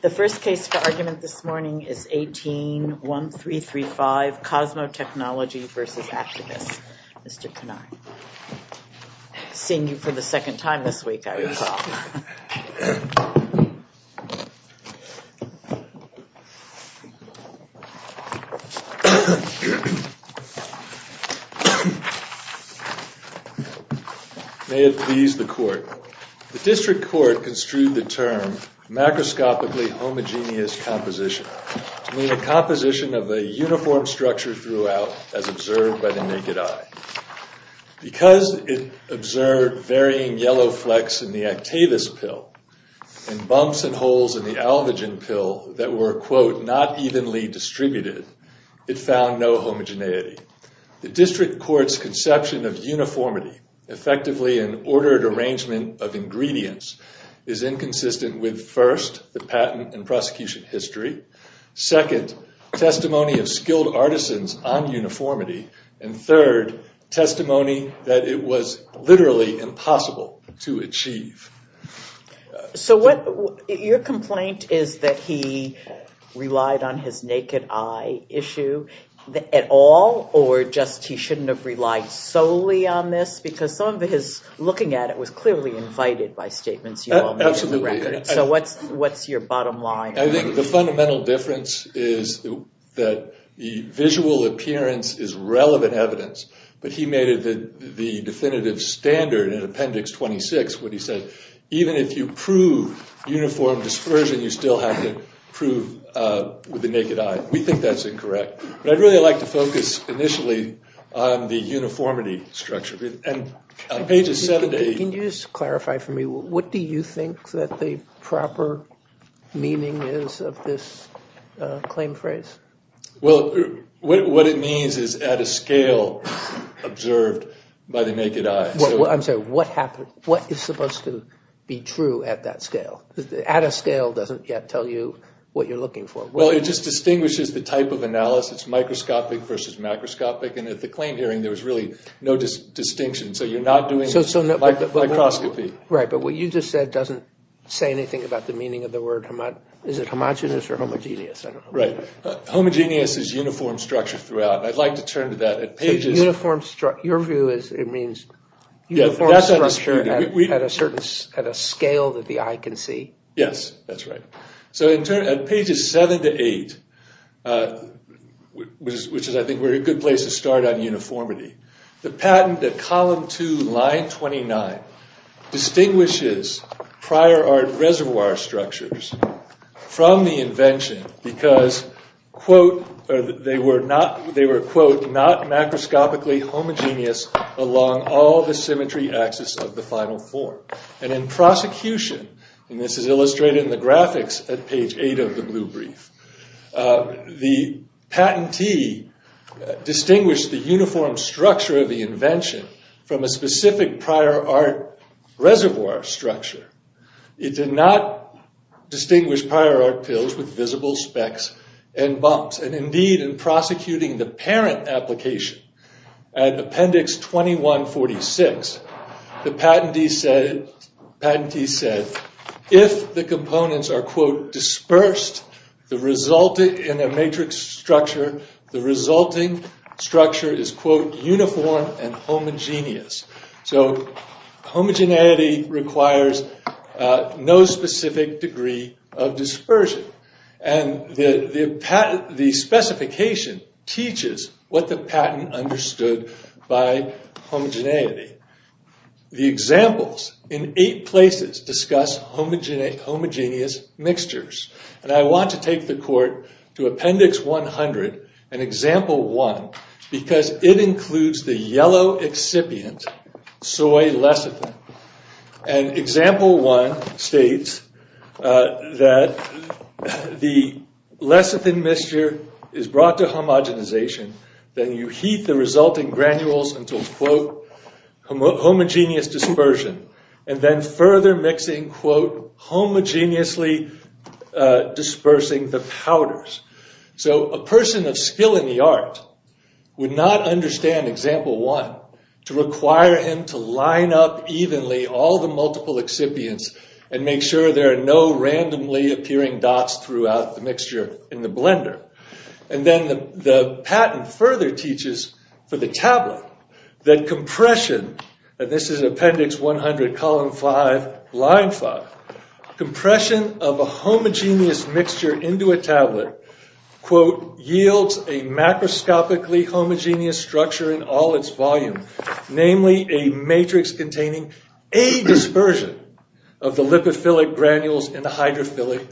The first case for argument this morning is 18-1335, Cosmo Technologies v. Actavis. Mr. Knarr. Seeing you for the second time this week, I recall. May it please the Court. The District Court construed the term macroscopically homogeneous composition to mean a composition of a uniform structure throughout as observed by the naked eye. Because it observed varying yellow flecks in the Actavis pill and bumps and holes in the Alvagen pill that were, quote, not evenly distributed, it found no homogeneity. The District Court's conception of uniformity, effectively an ordered arrangement of ingredients, is inconsistent with, first, the patent and prosecution history, second, testimony of skilled artisans on uniformity, and third, testimony that it was literally impossible to achieve. Your complaint is that he relied on his naked eye issue at all, or just he shouldn't have relied solely on this? Because some of his looking at it was clearly invited by statements you all made on the record. Absolutely. So what's your bottom line? I think the fundamental difference is that the visual appearance is relevant evidence, but he made it the definitive standard in Appendix 26 when he said, even if you prove uniform dispersion, you still have to prove with the naked eye. We think that's incorrect. But I'd really like to focus initially on the uniformity structure. Can you just clarify for me, what do you think that the proper meaning is of this claim phrase? Well, what it means is at a scale observed by the naked eye. I'm sorry, what is supposed to be true at that scale? At a scale doesn't yet tell you what you're looking for. Well, it just distinguishes the type of analysis, microscopic versus macroscopic, and at the claim hearing there was really no distinction, so you're not doing microscopy. Right, but what you just said doesn't say anything about the meaning of the word, is it homogenous or homogeneous? Right, homogeneous is uniform structure throughout, and I'd like to turn to that. Your view is it means uniform structure at a scale that the eye can see? Yes, that's right. So at pages 7 to 8, which I think is a good place to start on uniformity, the patent at column 2, line 29, distinguishes prior art reservoir structures from the invention because, quote, they were, quote, not macroscopically homogeneous along all the symmetry axis of the final form. And in prosecution, and this is illustrated in the graphics at page 8 of the blue brief, the patentee distinguished the uniform structure of the invention from a specific prior art reservoir structure. It did not distinguish prior art pills with visible specks and bumps. And indeed, in prosecuting the parent application, at appendix 2146, the patentee said, if the components are, quote, dispersed in a matrix structure, the resulting structure is, quote, uniform and homogeneous. So homogeneity requires no specific degree of dispersion. And the specification teaches what the patent understood by homogeneity. The examples in eight places discuss homogeneous mixtures. And I want to take the court to appendix 100 and example 1 because it includes the yellow excipient, soy lecithin. And example 1 states that the lecithin mixture is brought to homogenization. Then you heat the resulting granules until, quote, homogeneous dispersion. And then further mixing, quote, homogeneously dispersing the powders. So a person of skill in the art would not understand example 1 to require him to line up evenly all the multiple excipients and make sure there are no randomly appearing dots throughout the mixture in the blender. And then the patent further teaches for the tablet that compression, and this is appendix 100, column 5, line 5, compression of a homogeneous mixture into a tablet, quote, yields a macroscopically homogeneous structure in all its volume. Namely, a matrix containing a dispersion of the lipophilic granules and the hydrophilic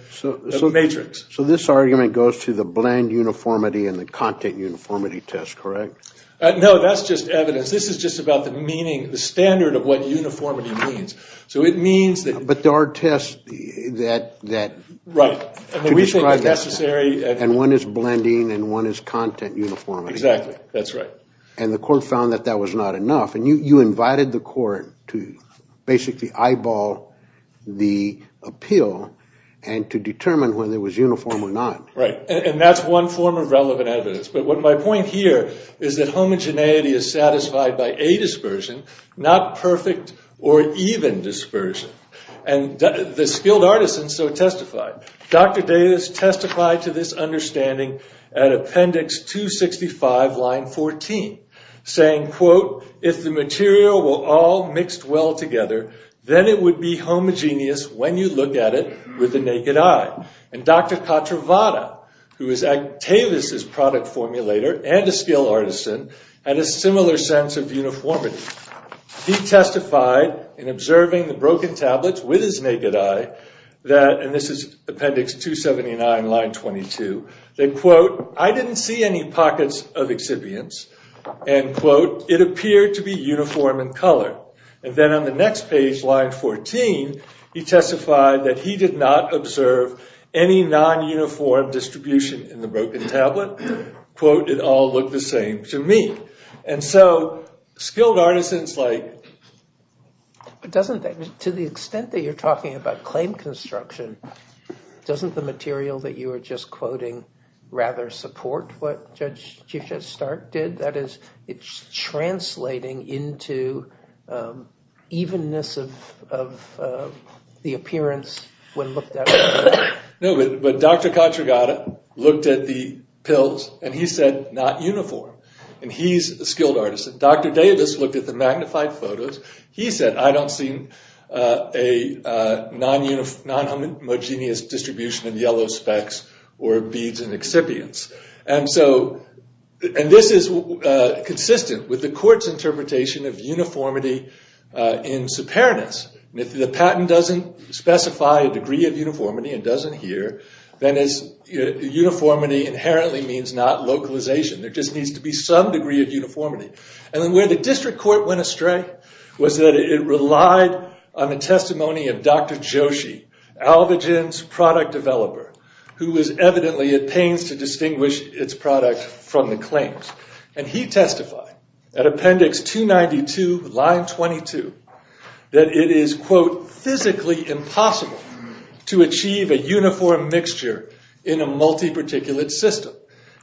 matrix. So this argument goes to the blend uniformity and the content uniformity test, correct? No, that's just evidence. This is just about the meaning, the standard of what uniformity means. So it means that – But there are tests that – Right. And we think it's necessary – And one is blending and one is content uniformity. Exactly. That's right. And the court found that that was not enough. And you invited the court to basically eyeball the appeal and to determine whether it was uniform or not. Right. And that's one form of relevant evidence. But my point here is that homogeneity is satisfied by a dispersion, not perfect or even dispersion. And the skilled artisan so testified. Dr. Davis testified to this understanding at Appendix 265, line 14, saying, quote, if the material were all mixed well together, then it would be homogeneous when you look at it with the naked eye. And Dr. Katravada, who is Agtavis' product formulator and a skilled artisan, had a similar sense of uniformity. He testified in observing the broken tablets with his naked eye that – and this is Appendix 279, line 22 – that, quote, I didn't see any pockets of exhibients. And, quote, it appeared to be uniform in color. And then on the next page, line 14, he testified that he did not observe any non-uniform distribution in the broken tablet. Quote, it all looked the same to me. And so skilled artisans like – But doesn't that – to the extent that you're talking about claim construction, doesn't the material that you were just quoting rather support what Judge Chief Judge Stark did? That is, it's translating into evenness of the appearance when looked at with the naked eye. No, but Dr. Katravada looked at the pills and he said, not uniform. And he's a skilled artisan. Dr. Davis looked at the magnified photos. He said, I don't see a non-homogeneous distribution in yellow specks or beads and exhibients. And so – and this is consistent with the court's interpretation of uniformity in superannus. And if the patent doesn't specify a degree of uniformity and doesn't adhere, then uniformity inherently means not localization. There just needs to be some degree of uniformity. And where the district court went astray was that it relied on the testimony of Dr. Joshi, Alvagen's product developer, who was evidently at pains to distinguish its product from the claims. And he testified at appendix 292, line 22, that it is, quote, physically impossible to achieve a uniform mixture in a multi-particulate system.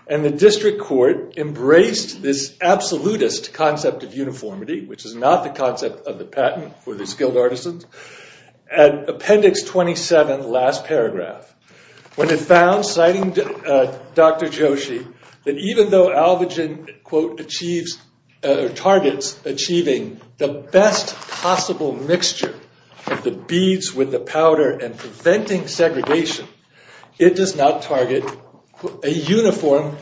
And the district court embraced this absolutist concept of uniformity, which is not the concept of the patent for the skilled artisans, at appendix 27, last paragraph, when it found, citing Dr. Joshi, that even though Alvagen, quote, achieves – or targets achieving the best possible mixture of the beads with the powder and preventing segregation, it does not target a uniform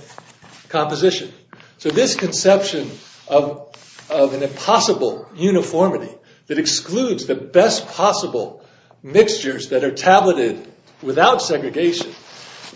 composition. So this conception of an impossible uniformity that excludes the best possible mixtures that are tabulated without segregation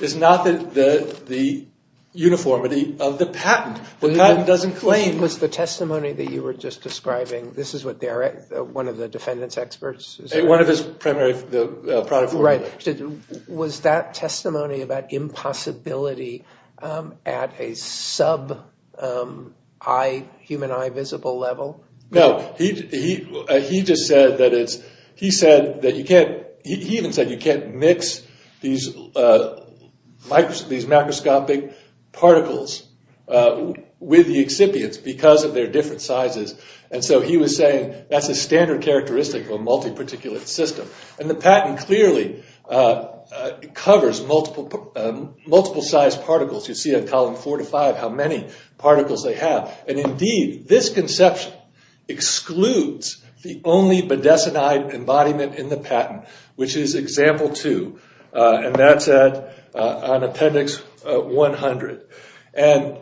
is not the uniformity of the patent. The patent doesn't claim – Was the testimony that you were just describing, this is what Derek, one of the defendant's experts – One of his primary – the product formulator. Right. Was that testimony about impossibility at a sub-human eye visible level? No. He just said that it's – he said that you can't – he even said you can't mix these macroscopic particles with the excipients because of their different sizes. And so he was saying that's a standard characteristic of a multi-particulate system. And the patent clearly covers multiple size particles. You see in column 4 to 5 how many particles they have. And indeed, this conception excludes the only bedecinide embodiment in the patent, which is example 2, and that's on appendix 100. And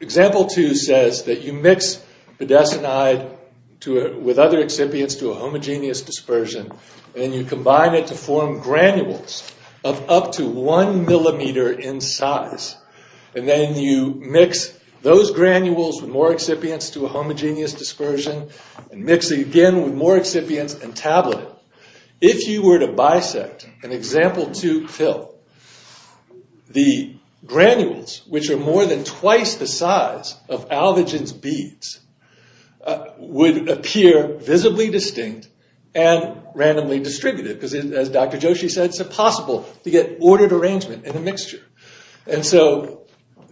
example 2 says that you mix bedecinide with other excipients to a homogeneous dispersion and you combine it to form granules of up to one millimeter in size. And then you mix those granules with more excipients to a homogeneous dispersion and mix it again with more excipients and tablet it. If you were to bisect an example 2 pill, the granules, which are more than twice the size of Alvagen's beads, would appear visibly distinct and randomly distributed. Because as Dr. Joshi said, it's impossible to get ordered arrangement in a mixture. And so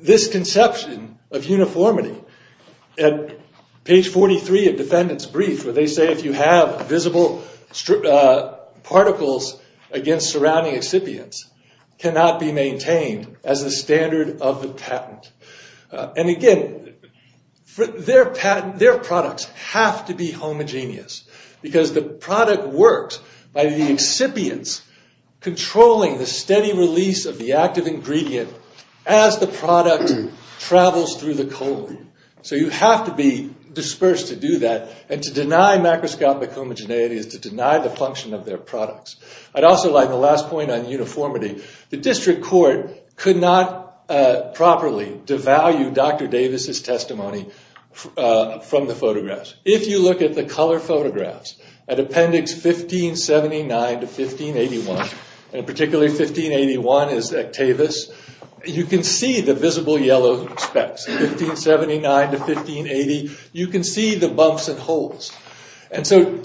this conception of uniformity, at page 43 of defendant's brief, where they say if you have visible particles against surrounding excipients, cannot be maintained as a standard of the patent. And again, their products have to be homogeneous, because the product works by the excipients controlling the steady release of the active ingredient as the product travels through the colon. So you have to be dispersed to do that. And to deny macroscopic homogeneity is to deny the function of their products. I'd also like the last point on uniformity. The district court could not properly devalue Dr. Davis' testimony from the photographs. If you look at the color photographs at appendix 1579 to 1581, and particularly 1581 is Octavius, you can see the visible yellow specks. In 1579 to 1580, you can see the bumps and holes. And so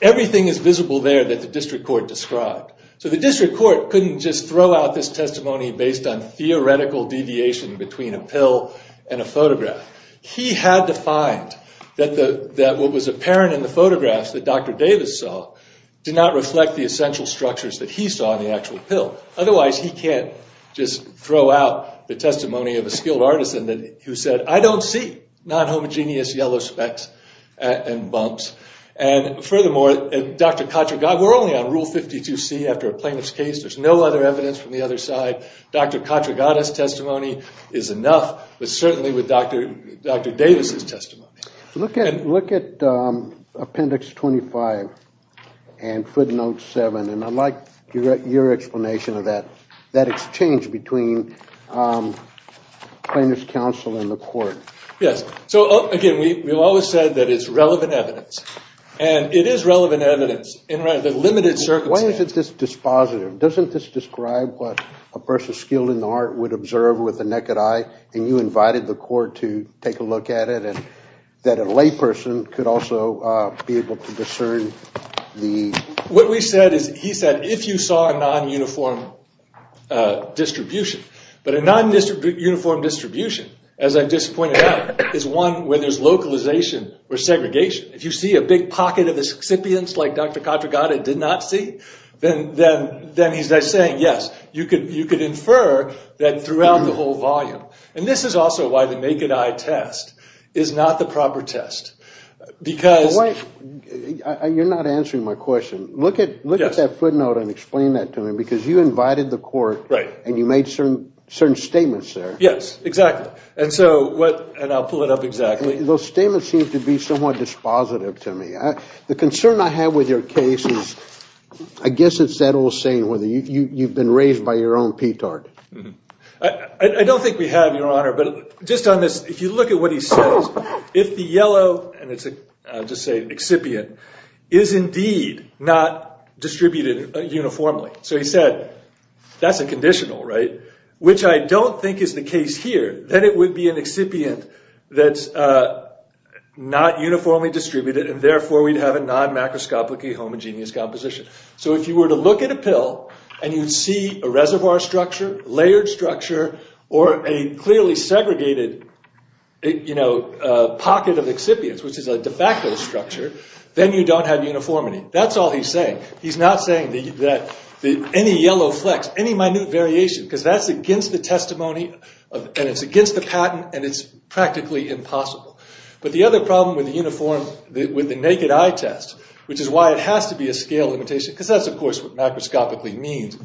everything is visible there that the district court described. So the district court couldn't just throw out this testimony based on theoretical deviation between a pill and a photograph. He had to find that what was apparent in the photographs that Dr. Davis saw did not reflect the essential structures that he saw in the actual pill. Otherwise, he can't just throw out the testimony of a skilled artisan who said, I don't see non-homogeneous yellow specks and bumps. And furthermore, we're only on Rule 52C after a plaintiff's case. There's no other evidence from the other side. Dr. Katragada's testimony is enough, but certainly with Dr. Davis' testimony. Look at appendix 25 and footnote 7. And I'd like your explanation of that exchange between plaintiff's counsel and the court. Yes, so again, we've always said that it's relevant evidence. And it is relevant evidence in the limited circumstances. Why is this dispositive? Doesn't this describe what a person skilled in the art would observe with the naked eye? And you invited the court to take a look at it. And that a layperson could also be able to discern the— What we said is, he said, if you saw a non-uniform distribution. But a non-uniform distribution, as I just pointed out, is one where there's localization or segregation. If you see a big pocket of the recipients like Dr. Katragada did not see, then he's saying, yes, you could infer that throughout the whole volume. And this is also why the naked eye test is not the proper test. Because— You're not answering my question. Look at that footnote and explain that to me. Because you invited the court and you made certain statements there. Yes, exactly. And so what—and I'll pull it up exactly. Those statements seem to be somewhat dispositive to me. The concern I have with your case is— I guess it's that old saying, whether you've been raised by your own petard. I don't think we have, Your Honor. But just on this, if you look at what he says, if the yellow—and it's, I'll just say, an excipient— is indeed not distributed uniformly. So he said, that's a conditional, right? Which I don't think is the case here. That it would be an excipient that's not uniformly distributed and therefore we'd have a non-macroscopically homogeneous composition. So if you were to look at a pill and you'd see a reservoir structure, layered structure, or a clearly segregated pocket of excipients, which is a de facto structure, then you don't have uniformity. That's all he's saying. He's not saying that any yellow flecks, any minute variation, because that's against the testimony and it's against the patent and it's practically impossible. But the other problem with the naked eye test, which is why it has to be a scale limitation, because that's of course what macroscopically means,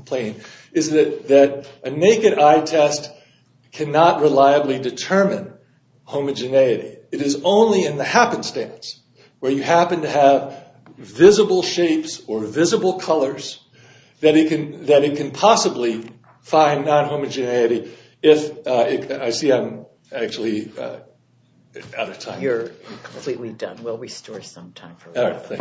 is that a naked eye test cannot reliably determine homogeneity. It is only in the happenstance, where you happen to have visible shapes or visible colors, that it can possibly find non-homogeneity. I see I'm actually out of time. You're completely done. We'll restore some time for questions.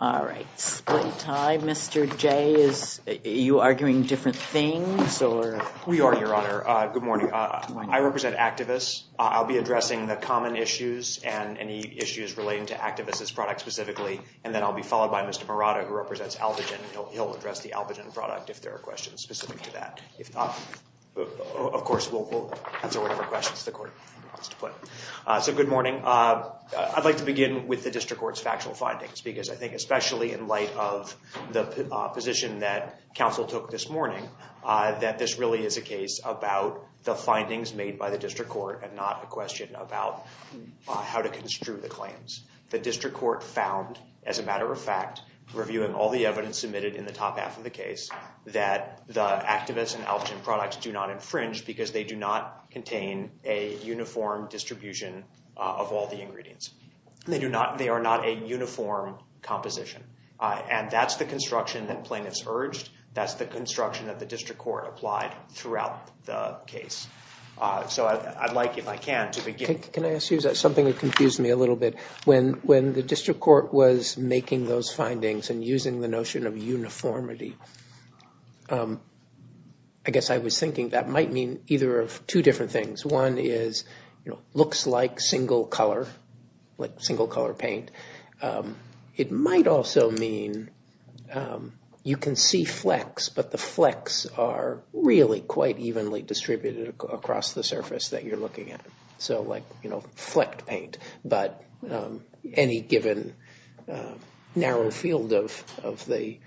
All right. Split time. Mr. Jay, are you arguing different things? We are, Your Honor. Good morning. I represent activists. I'll be addressing the common issues and any issues relating to activists' products specifically, and then I'll be followed by Mr. Morata, who represents Albogen. He'll address the Albogen product if there are questions specific to that. Of course, we'll answer whatever questions the court wants to put. So good morning. I'd like to begin with the district court's factual findings because I think especially in light of the position that counsel took this morning, that this really is a case about the findings made by the district court and not a question about how to construe the claims. The district court found, as a matter of fact, reviewing all the evidence submitted in the top half of the case, that the activists and Albogen products do not infringe because they do not contain a uniform distribution of all the ingredients. They are not a uniform composition. And that's the construction that plaintiffs urged. That's the construction that the district court applied throughout the case. So I'd like, if I can, to begin. Can I ask you something that confused me a little bit? When the district court was making those findings and using the notion of uniformity, I guess I was thinking that might mean either of two different things. One is looks like single color, like single color paint. It might also mean you can see flecks, but the flecks are really quite evenly distributed across the surface that you're looking at. So like flecked paint, but any given narrow field of the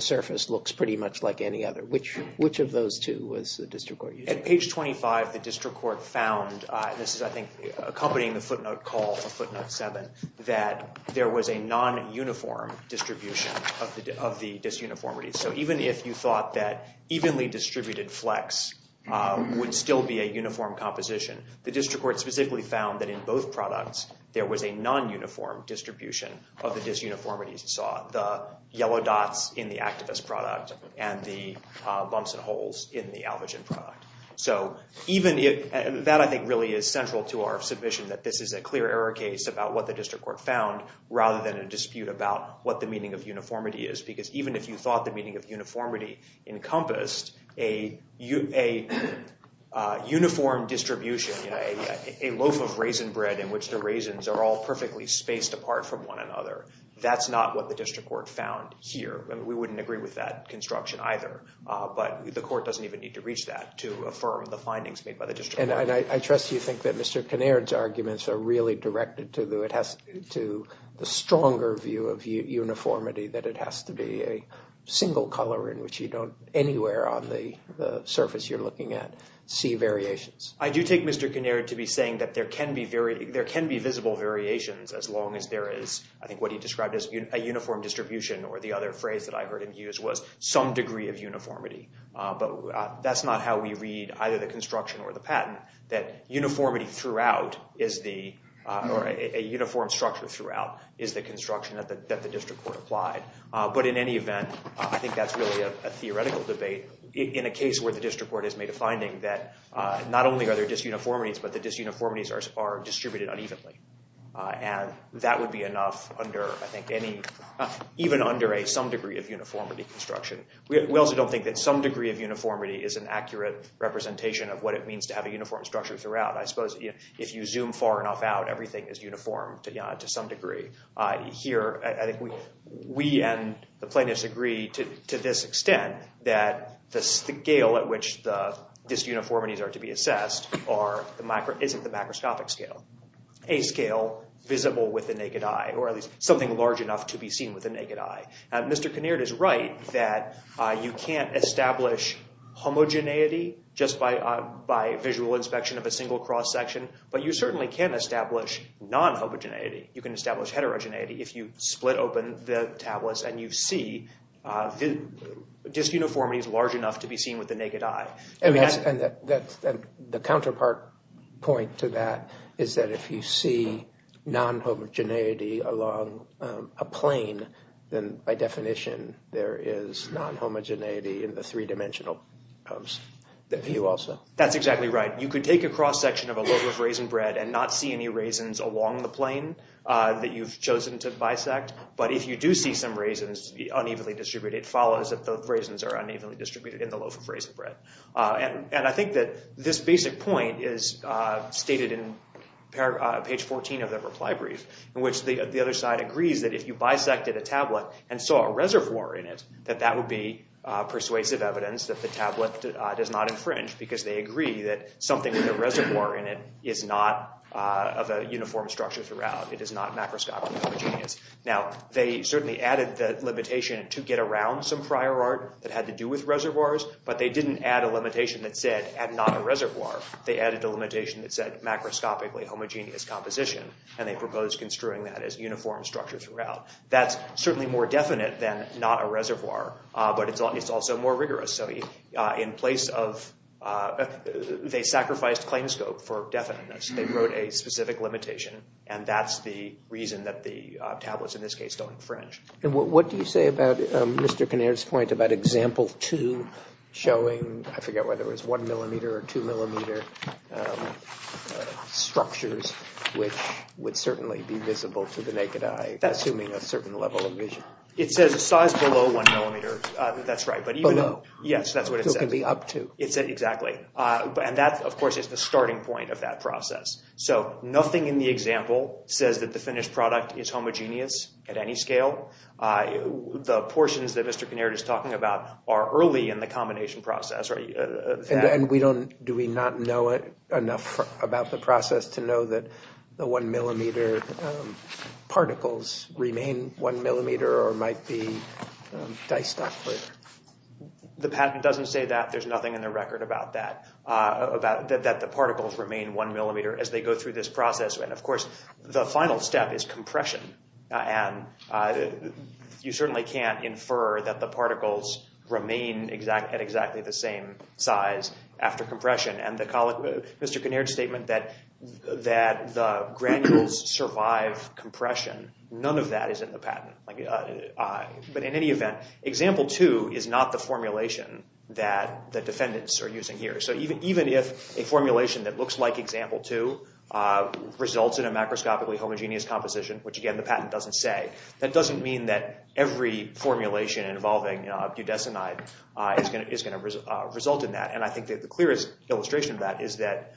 surface looks pretty much like any other. Which of those two was the district court using? At page 25, the district court found, and this is, I think, accompanying the footnote call for footnote 7, that there was a non-uniform distribution of the disuniformity. So even if you thought that evenly distributed flecks would still be a uniform composition, the district court specifically found that in both products there was a non-uniform distribution of the disuniformities. You saw the yellow dots in the activist product and the bumps and holes in the Alvagen product. So even that, I think, really is central to our submission, that this is a clear error case about what the district court found rather than a dispute about what the meaning of uniformity is. Because even if you thought the meaning of uniformity encompassed a uniform distribution, a loaf of raisin bread in which the raisins are all perfectly spaced apart from one another, that's not what the district court found here. We wouldn't agree with that construction either, but the court doesn't even need to reach that to affirm the findings made by the district court. And I trust you think that Mr. Kinnaird's arguments are really directed to the stronger view of uniformity, that it has to be a single color in which you don't, anywhere on the surface you're looking at, see variations. I do take Mr. Kinnaird to be saying that there can be visible variations as long as there is, I think what he described as a uniform distribution or the other phrase that I heard him use was, some degree of uniformity. But that's not how we read either the construction or the patent, that uniformity throughout, or a uniform structure throughout, is the construction that the district court applied. But in any event, I think that's really a theoretical debate. In a case where the district court has made a finding that not only are there disuniformities, but the disuniformities are distributed unevenly. And that would be enough under, I think, even under a some degree of uniformity construction. We also don't think that some degree of uniformity is an accurate representation of what it means to have a uniform structure throughout. I suppose if you zoom far enough out, everything is uniform to some degree. Here, I think we and the plaintiffs agree to this extent that the scale at which the disuniformities are to be assessed isn't the macroscopic scale. A scale visible with the naked eye, or at least something large enough to be seen with the naked eye. Mr. Kinnaird is right that you can't establish homogeneity just by visual inspection of a single cross-section, but you certainly can establish non-homogeneity. You can establish heterogeneity if you split open the tablets and you see disuniformities large enough to be seen with the naked eye. And the counterpart point to that is that if you see non-homogeneity along a plane, then by definition there is non-homogeneity in the three-dimensional view also. That's exactly right. You could take a cross-section of a loaf of raisin bread and not see any raisins along the plane that you've chosen to bisect, but if you do see some raisins unevenly distributed, it follows that the raisins are unevenly distributed in the loaf of raisin bread. And I think that this basic point is stated in page 14 of the reply brief, in which the other side agrees that if you bisected a tablet and saw a reservoir in it, that that would be persuasive evidence that the tablet does not infringe because they agree that something with a reservoir in it is not of a uniform structure throughout. It is not macroscopically homogeneous. Now, they certainly added the limitation to get around some prior art that had to do with reservoirs, but they didn't add a limitation that said, add not a reservoir. They added a limitation that said, macroscopically homogeneous composition, and they proposed construing that as uniform structure throughout. That's certainly more definite than not a reservoir, but it's also more rigorous. They sacrificed claimscope for definiteness. They wrote a specific limitation, and that's the reason that the tablets, in this case, don't infringe. And what do you say about Mr. Kinnear's point about example two showing, I forget whether it was one millimeter or two millimeter structures, which would certainly be visible to the naked eye, assuming a certain level of vision. It says size below one millimeter. That's right. Below. Yes, that's what it says. So it can be up to. Exactly. And that, of course, is the starting point of that process. So nothing in the example says that the finished product is homogeneous at any scale. The portions that Mr. Kinnear is talking about are early in the combination process. And do we not know enough about the process to know that the one millimeter particles remain one millimeter or might be diced up? The patent doesn't say that. There's nothing in the record about that, that the particles remain one millimeter as they go through this process. And, of course, the final step is compression. And you certainly can't infer that the particles And Mr. Kinnear's statement that the granules survive compression, none of that is in the patent. But in any event, example two is not the formulation that the defendants are using here. So even if a formulation that looks like example two results in a macroscopically homogeneous composition, which, again, the patent doesn't say, that doesn't mean that every formulation involving budesonide is going to result in that. And I think that the clearest illustration of that is that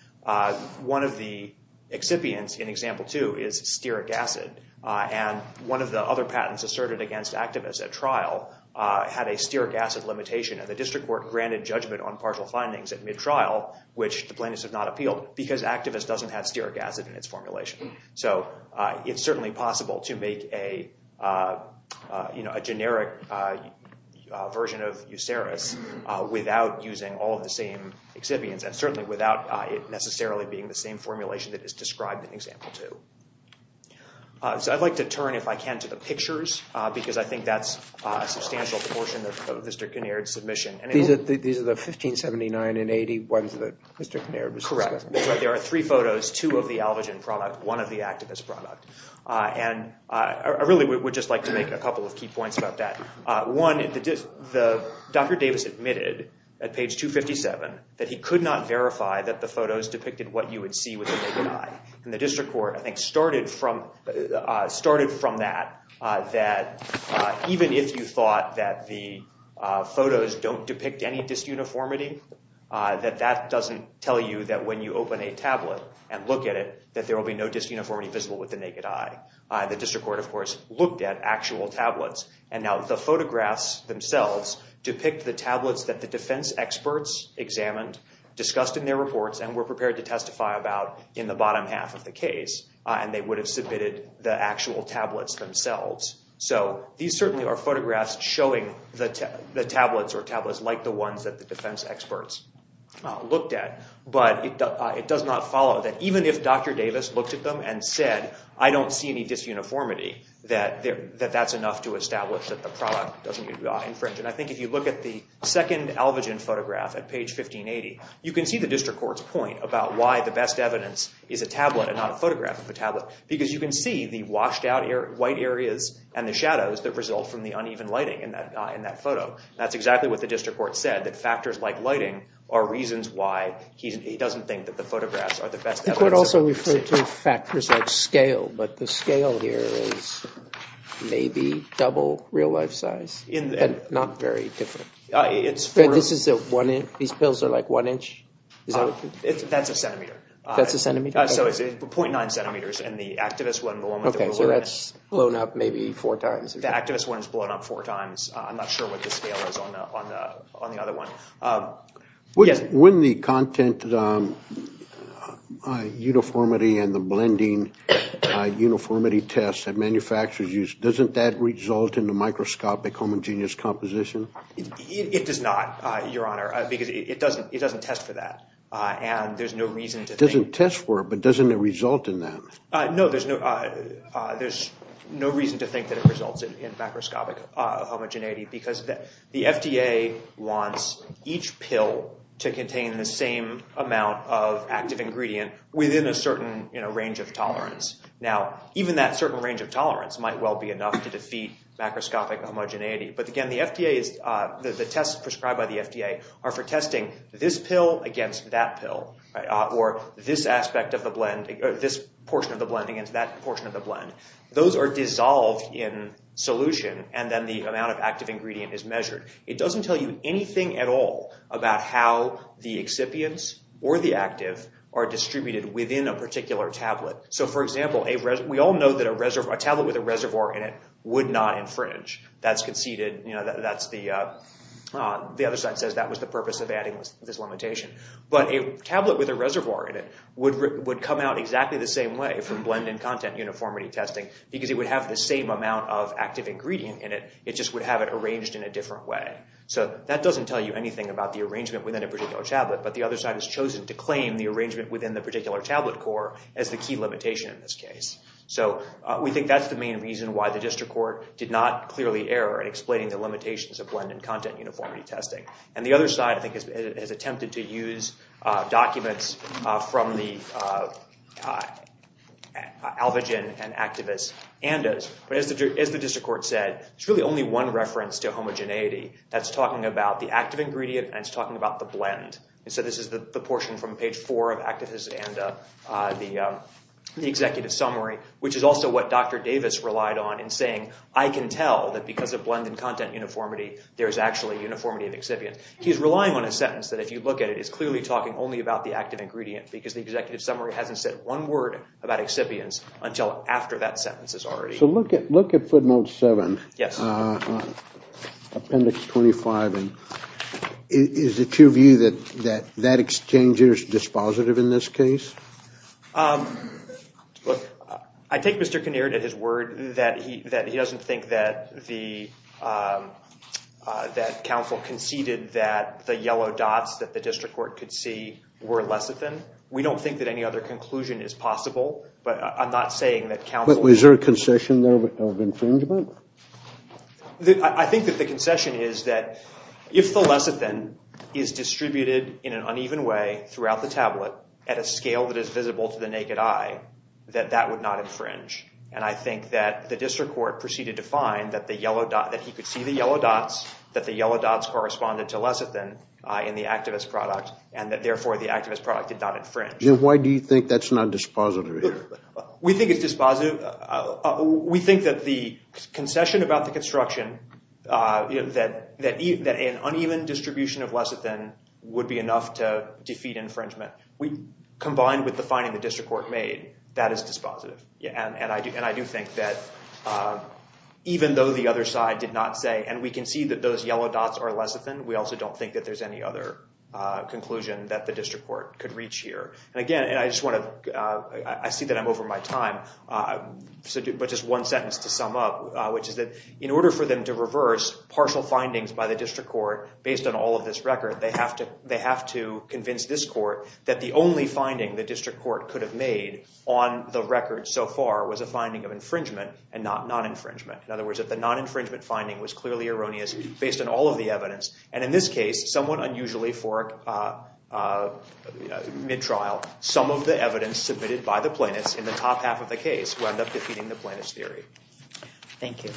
one of the excipients in example two is stearic acid. And one of the other patents asserted against activists at trial had a stearic acid limitation. And the district court granted judgment on partial findings at mid-trial, which the plaintiffs have not appealed, because activists doesn't have stearic acid in its formulation. So it's certainly possible to make a generic version of Euceris without using all of the same excipients and certainly without it necessarily being the same formulation that is described in example two. So I'd like to turn, if I can, to the pictures, because I think that's a substantial proportion of Mr. Kinnaird's submission. These are the 1579 and 81s that Mr. Kinnaird was discussing. Correct. There are three photos, two of the Alvagen product, one of the activist product. And I really would just like to make a couple of key points about that. One, Dr. Davis admitted at page 257 that he could not verify that the photos depicted what you would see with the naked eye. And the district court, I think, started from that, that even if you thought that the photos don't depict any disuniformity, that that doesn't tell you that when you open a tablet and look at it, that there will be no disuniformity visible with the naked eye. The district court, of course, looked at actual tablets. And now the photographs themselves depict the tablets that the defense experts examined, discussed in their reports, and were prepared to testify about in the bottom half of the case. And they would have submitted the actual tablets themselves. So these certainly are photographs showing the tablets or tablets like the ones that the defense experts looked at. But it does not follow that even if Dr. Davis looked at them and said, I don't see any disuniformity, that that's enough to establish that the product doesn't infringe. And I think if you look at the second Elvigin photograph at page 1580, you can see the district court's point about why the best evidence is a tablet and not a photograph of a tablet, because you can see the washed-out white areas and the shadows that result from the uneven lighting in that photo. That's exactly what the district court said, that factors like lighting are reasons why he doesn't think that the photographs are the best evidence. I think we'd also refer to factors like scale, but the scale here is maybe double real-life size, but not very different. These pills are like one inch? That's a centimeter. That's a centimeter? So it's 0.9 centimeters, and the activist one, the one with the blue line. So that's blown up maybe four times. The activist one is blown up four times. I'm not sure what the scale is on the other one. When the content uniformity and the blending uniformity test that manufacturers use, doesn't that result in the microscope homogeneous composition? It does not, Your Honor, because it doesn't test for that, and there's no reason to think that. It doesn't test for it, but doesn't it result in that? No, there's no reason to think that it results in macroscopic homogeneity, because the FDA wants each pill to contain the same amount of active ingredient within a certain range of tolerance. Now, even that certain range of tolerance might well be enough to defeat macroscopic homogeneity. But again, the tests prescribed by the FDA are for testing this pill against that pill or this portion of the blend against that portion of the blend. Those are dissolved in solution, and then the amount of active ingredient is measured. It doesn't tell you anything at all about how the excipients or the active are distributed within a particular tablet. So, for example, we all know that a tablet with a reservoir in it would not infringe. That's conceded. The other side says that was the purpose of adding this limitation. But a tablet with a reservoir in it would come out exactly the same way from blend and content uniformity testing, because it would have the same amount of active ingredient in it, it just would have it arranged in a different way. So that doesn't tell you anything about the arrangement within a particular tablet, but the other side has chosen to claim the arrangement within the particular tablet core as the key limitation in this case. So we think that's the main reason why the district court did not clearly err in explaining the limitations of blend and content uniformity testing. And the other side, I think, has attempted to use documents from the Alvagen and Activist Andas. But as the district court said, there's really only one reference to homogeneity. That's talking about the active ingredient, and it's talking about the blend. So this is the portion from page four of Activist Andas, the executive summary, which is also what Dr. Davis relied on in saying, I can tell that because of blend and content uniformity, there's actually uniformity in excipients. He's relying on a sentence that, if you look at it, is clearly talking only about the active ingredient, because the executive summary hasn't said one word about excipients until after that sentence is already. So look at footnote seven, appendix 25. Is it your view that that exchange is dispositive in this case? I take Mr. Kinneard at his word that he doesn't think that the council conceded that the yellow dots that the district court could see were lecithin. We don't think that any other conclusion is possible, but I'm not saying that council Is there a concession there of infringement? I think that the concession is that if the lecithin is distributed in an uneven way throughout the tablet at a scale that is visible to the naked eye, that that would not infringe. And I think that the district court proceeded to find that he could see the yellow dots, that the yellow dots corresponded to lecithin in the activist product, and that therefore the activist product did not infringe. Why do you think that's not dispositive here? We think it's dispositive. We think that the concession about the construction, that an uneven distribution of lecithin would be enough to defeat infringement. Combined with the finding the district court made, that is dispositive. And I do think that even though the other side did not say, and we can see that those yellow dots are lecithin, we also don't think that there's any other conclusion that the district court could reach here. And again, I see that I'm over my time, but just one sentence to sum up, which is that in order for them to reverse partial findings by the district court based on all of this record, they have to convince this court that the only finding the district court could have made on the record so far was a finding of infringement and not non-infringement. In other words, if the non-infringement finding was clearly erroneous based on all of the evidence, and in this case, somewhat unusually for mid-trial, some of the evidence submitted by the plaintiffs in the top half of the case wound up defeating the plaintiffs' theory. Thank you.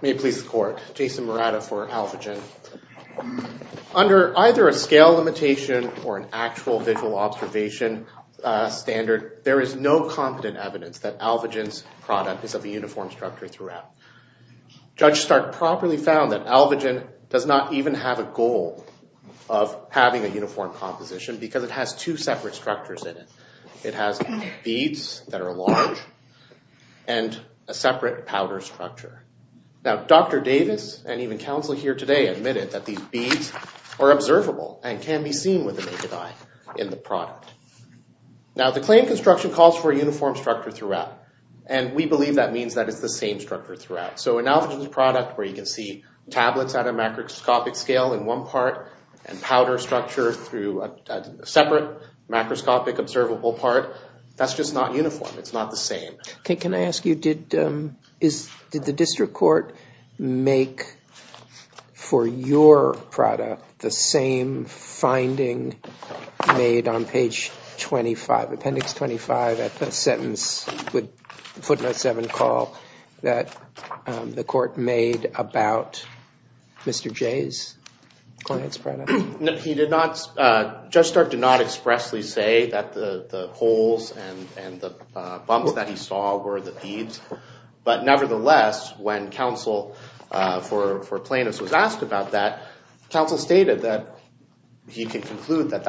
May it please the court. Jason Morata for Alvagen. Under either a scale limitation or an actual visual observation standard, there is no competent evidence that Alvagen's product is of a uniform structure throughout. Judge Stark properly found that Alvagen does not even have a goal of having a uniform composition because it has two separate structures in it. It has beads that are large and a separate powder structure. Now, Dr. Davis and even counsel here today admitted that these beads are observable and can be seen with the naked eye in the product. Now, the claim construction calls for a uniform structure throughout, and we believe that means that it's the same structure throughout. So in Alvagen's product where you can see tablets at a macroscopic scale in one part and powder structure through a separate macroscopic observable part, that's just not uniform. It's not the same. Okay. Can I ask you, did the district court make for your product the same finding made on page 25, appendix 25 at the sentence with footnote 7 call that the court made about Mr. J's client's product? No, he did not. Judge Stark did not expressly say that the holes and the bumps that he saw were the beads. But nevertheless, when counsel for plaintiffs was asked about that, counsel stated that he can conclude that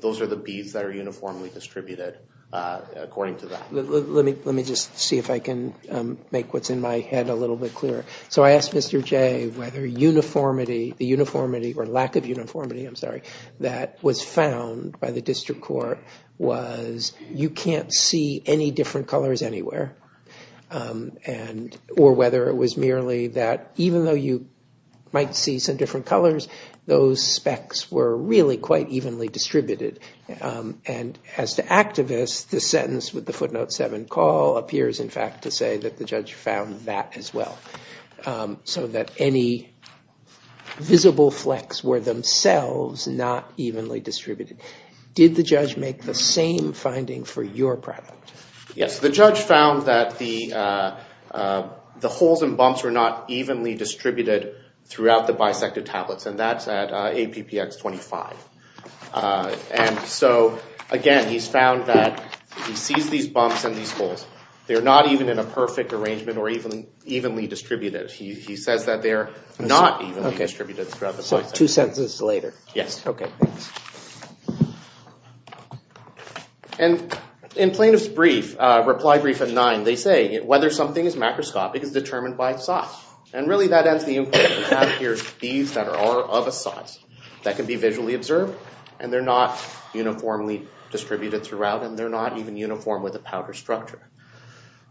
those are the beads that are uniformly distributed according to that. Let me just see if I can make what's in my head a little bit clearer. So I asked Mr. J whether the uniformity or lack of uniformity, I'm sorry, that was found by the district court was you can't see any different colors anywhere, or whether it was merely that even though you might see some different colors, those specs were really quite evenly distributed. And as to activists, the sentence with the footnote 7 call appears in fact to say that the judge found that as well. So that any visible flecks were themselves not evenly distributed. Did the judge make the same finding for your product? Yes, the judge found that the holes and bumps were not evenly distributed throughout the bisected tablets, and that's at APPX 25. And so, again, he's found that he sees these bumps and these holes. They're not even in a perfect arrangement or even evenly distributed. He says that they're not evenly distributed throughout the bisect. So two sentences later. Yes. Okay, thanks. And in plaintiff's brief, reply brief at 9, they say whether something is macroscopic is determined by its size. And really that ends the inquiry. We have here beads that are of a size that can be visually observed, and they're not uniformly distributed throughout, and they're not even uniform with a powder structure.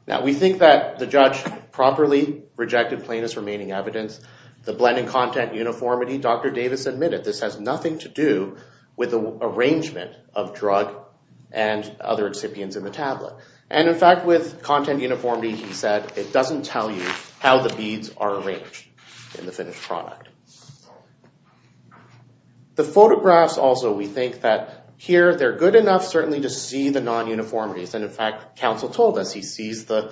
Now, we think that the judge properly rejected plaintiff's remaining evidence. The blending content, uniformity, Dr. Davis admitted this has nothing to do with the arrangement of drug and other excipients in the tablet. And, in fact, with content uniformity, he said it doesn't tell you how the beads are arranged in the finished product. The photographs also, we think that here they're good enough certainly to see the non-uniformities. And, in fact, counsel told us he sees the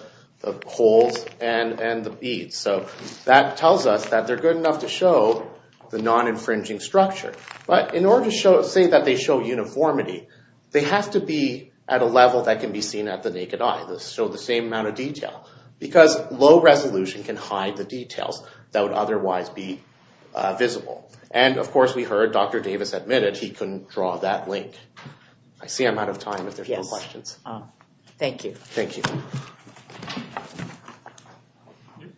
holes and the beads. So that tells us that they're good enough to show the non-infringing structure. But in order to say that they show uniformity, they have to be at a level that can be seen at the naked eye. They show the same amount of detail. Because low resolution can hide the details that would otherwise be visible. And, of course, we heard Dr. Davis admitted he couldn't draw that link. I see I'm out of time if there's no questions. Thank you. Thank you.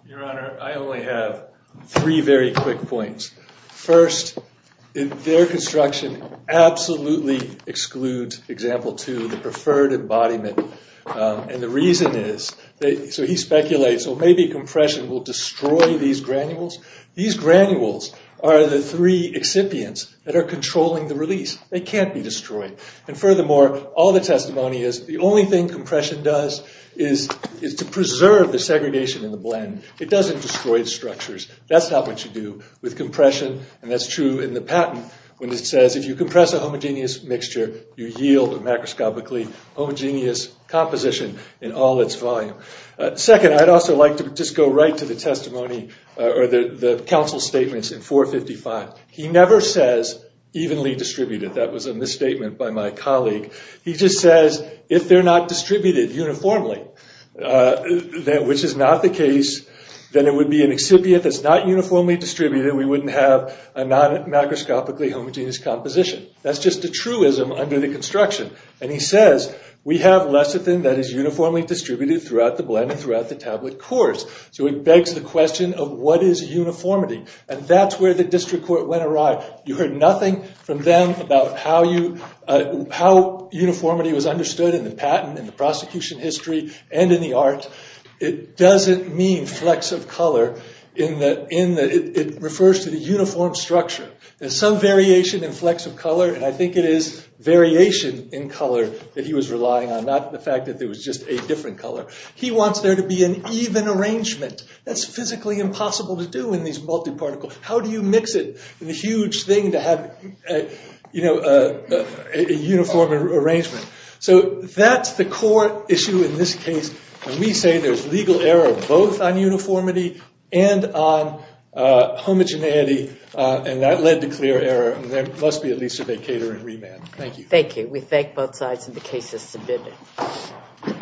Your Honor, I only have three very quick points. First, their construction absolutely excludes example two, the preferred embodiment. And the reason is, so he speculates, so maybe compression will destroy these granules. These granules are the three excipients that are controlling the release. They can't be destroyed. And, furthermore, all the testimony is the only thing compression does is to preserve the segregation in the blend. It doesn't destroy the structures. That's not what you do with compression. And that's true in the patent when it says if you compress a homogeneous mixture, you yield a macroscopically homogeneous composition in all its volume. Second, I'd also like to just go right to the testimony or the counsel statements in 455. He never says evenly distributed. That was a misstatement by my colleague. He just says if they're not distributed uniformly, which is not the case, then it would be an excipient that's not uniformly distributed. We wouldn't have a non-macroscopically homogeneous composition. That's just a truism under the construction. And he says we have lecithin that is uniformly distributed throughout the blend and throughout the tablet course. So it begs the question of what is uniformity? And that's where the district court went awry. You heard nothing from them about how uniformity was understood in the patent, in the prosecution history, and in the art. It doesn't mean flex of color. It refers to the uniform structure. There's some variation in flex of color, and I think it is variation in color that he was relying on, not the fact that there was just a different color. He wants there to be an even arrangement. That's physically impossible to do in these multiparticles. How do you mix it in a huge thing to have a uniform arrangement? So that's the core issue in this case. And we say there's legal error both on uniformity and on homogeneity, and that led to clear error, and there must be at least a vacator and remand. Thank you. Thank you. We thank both sides, and the case is submitted.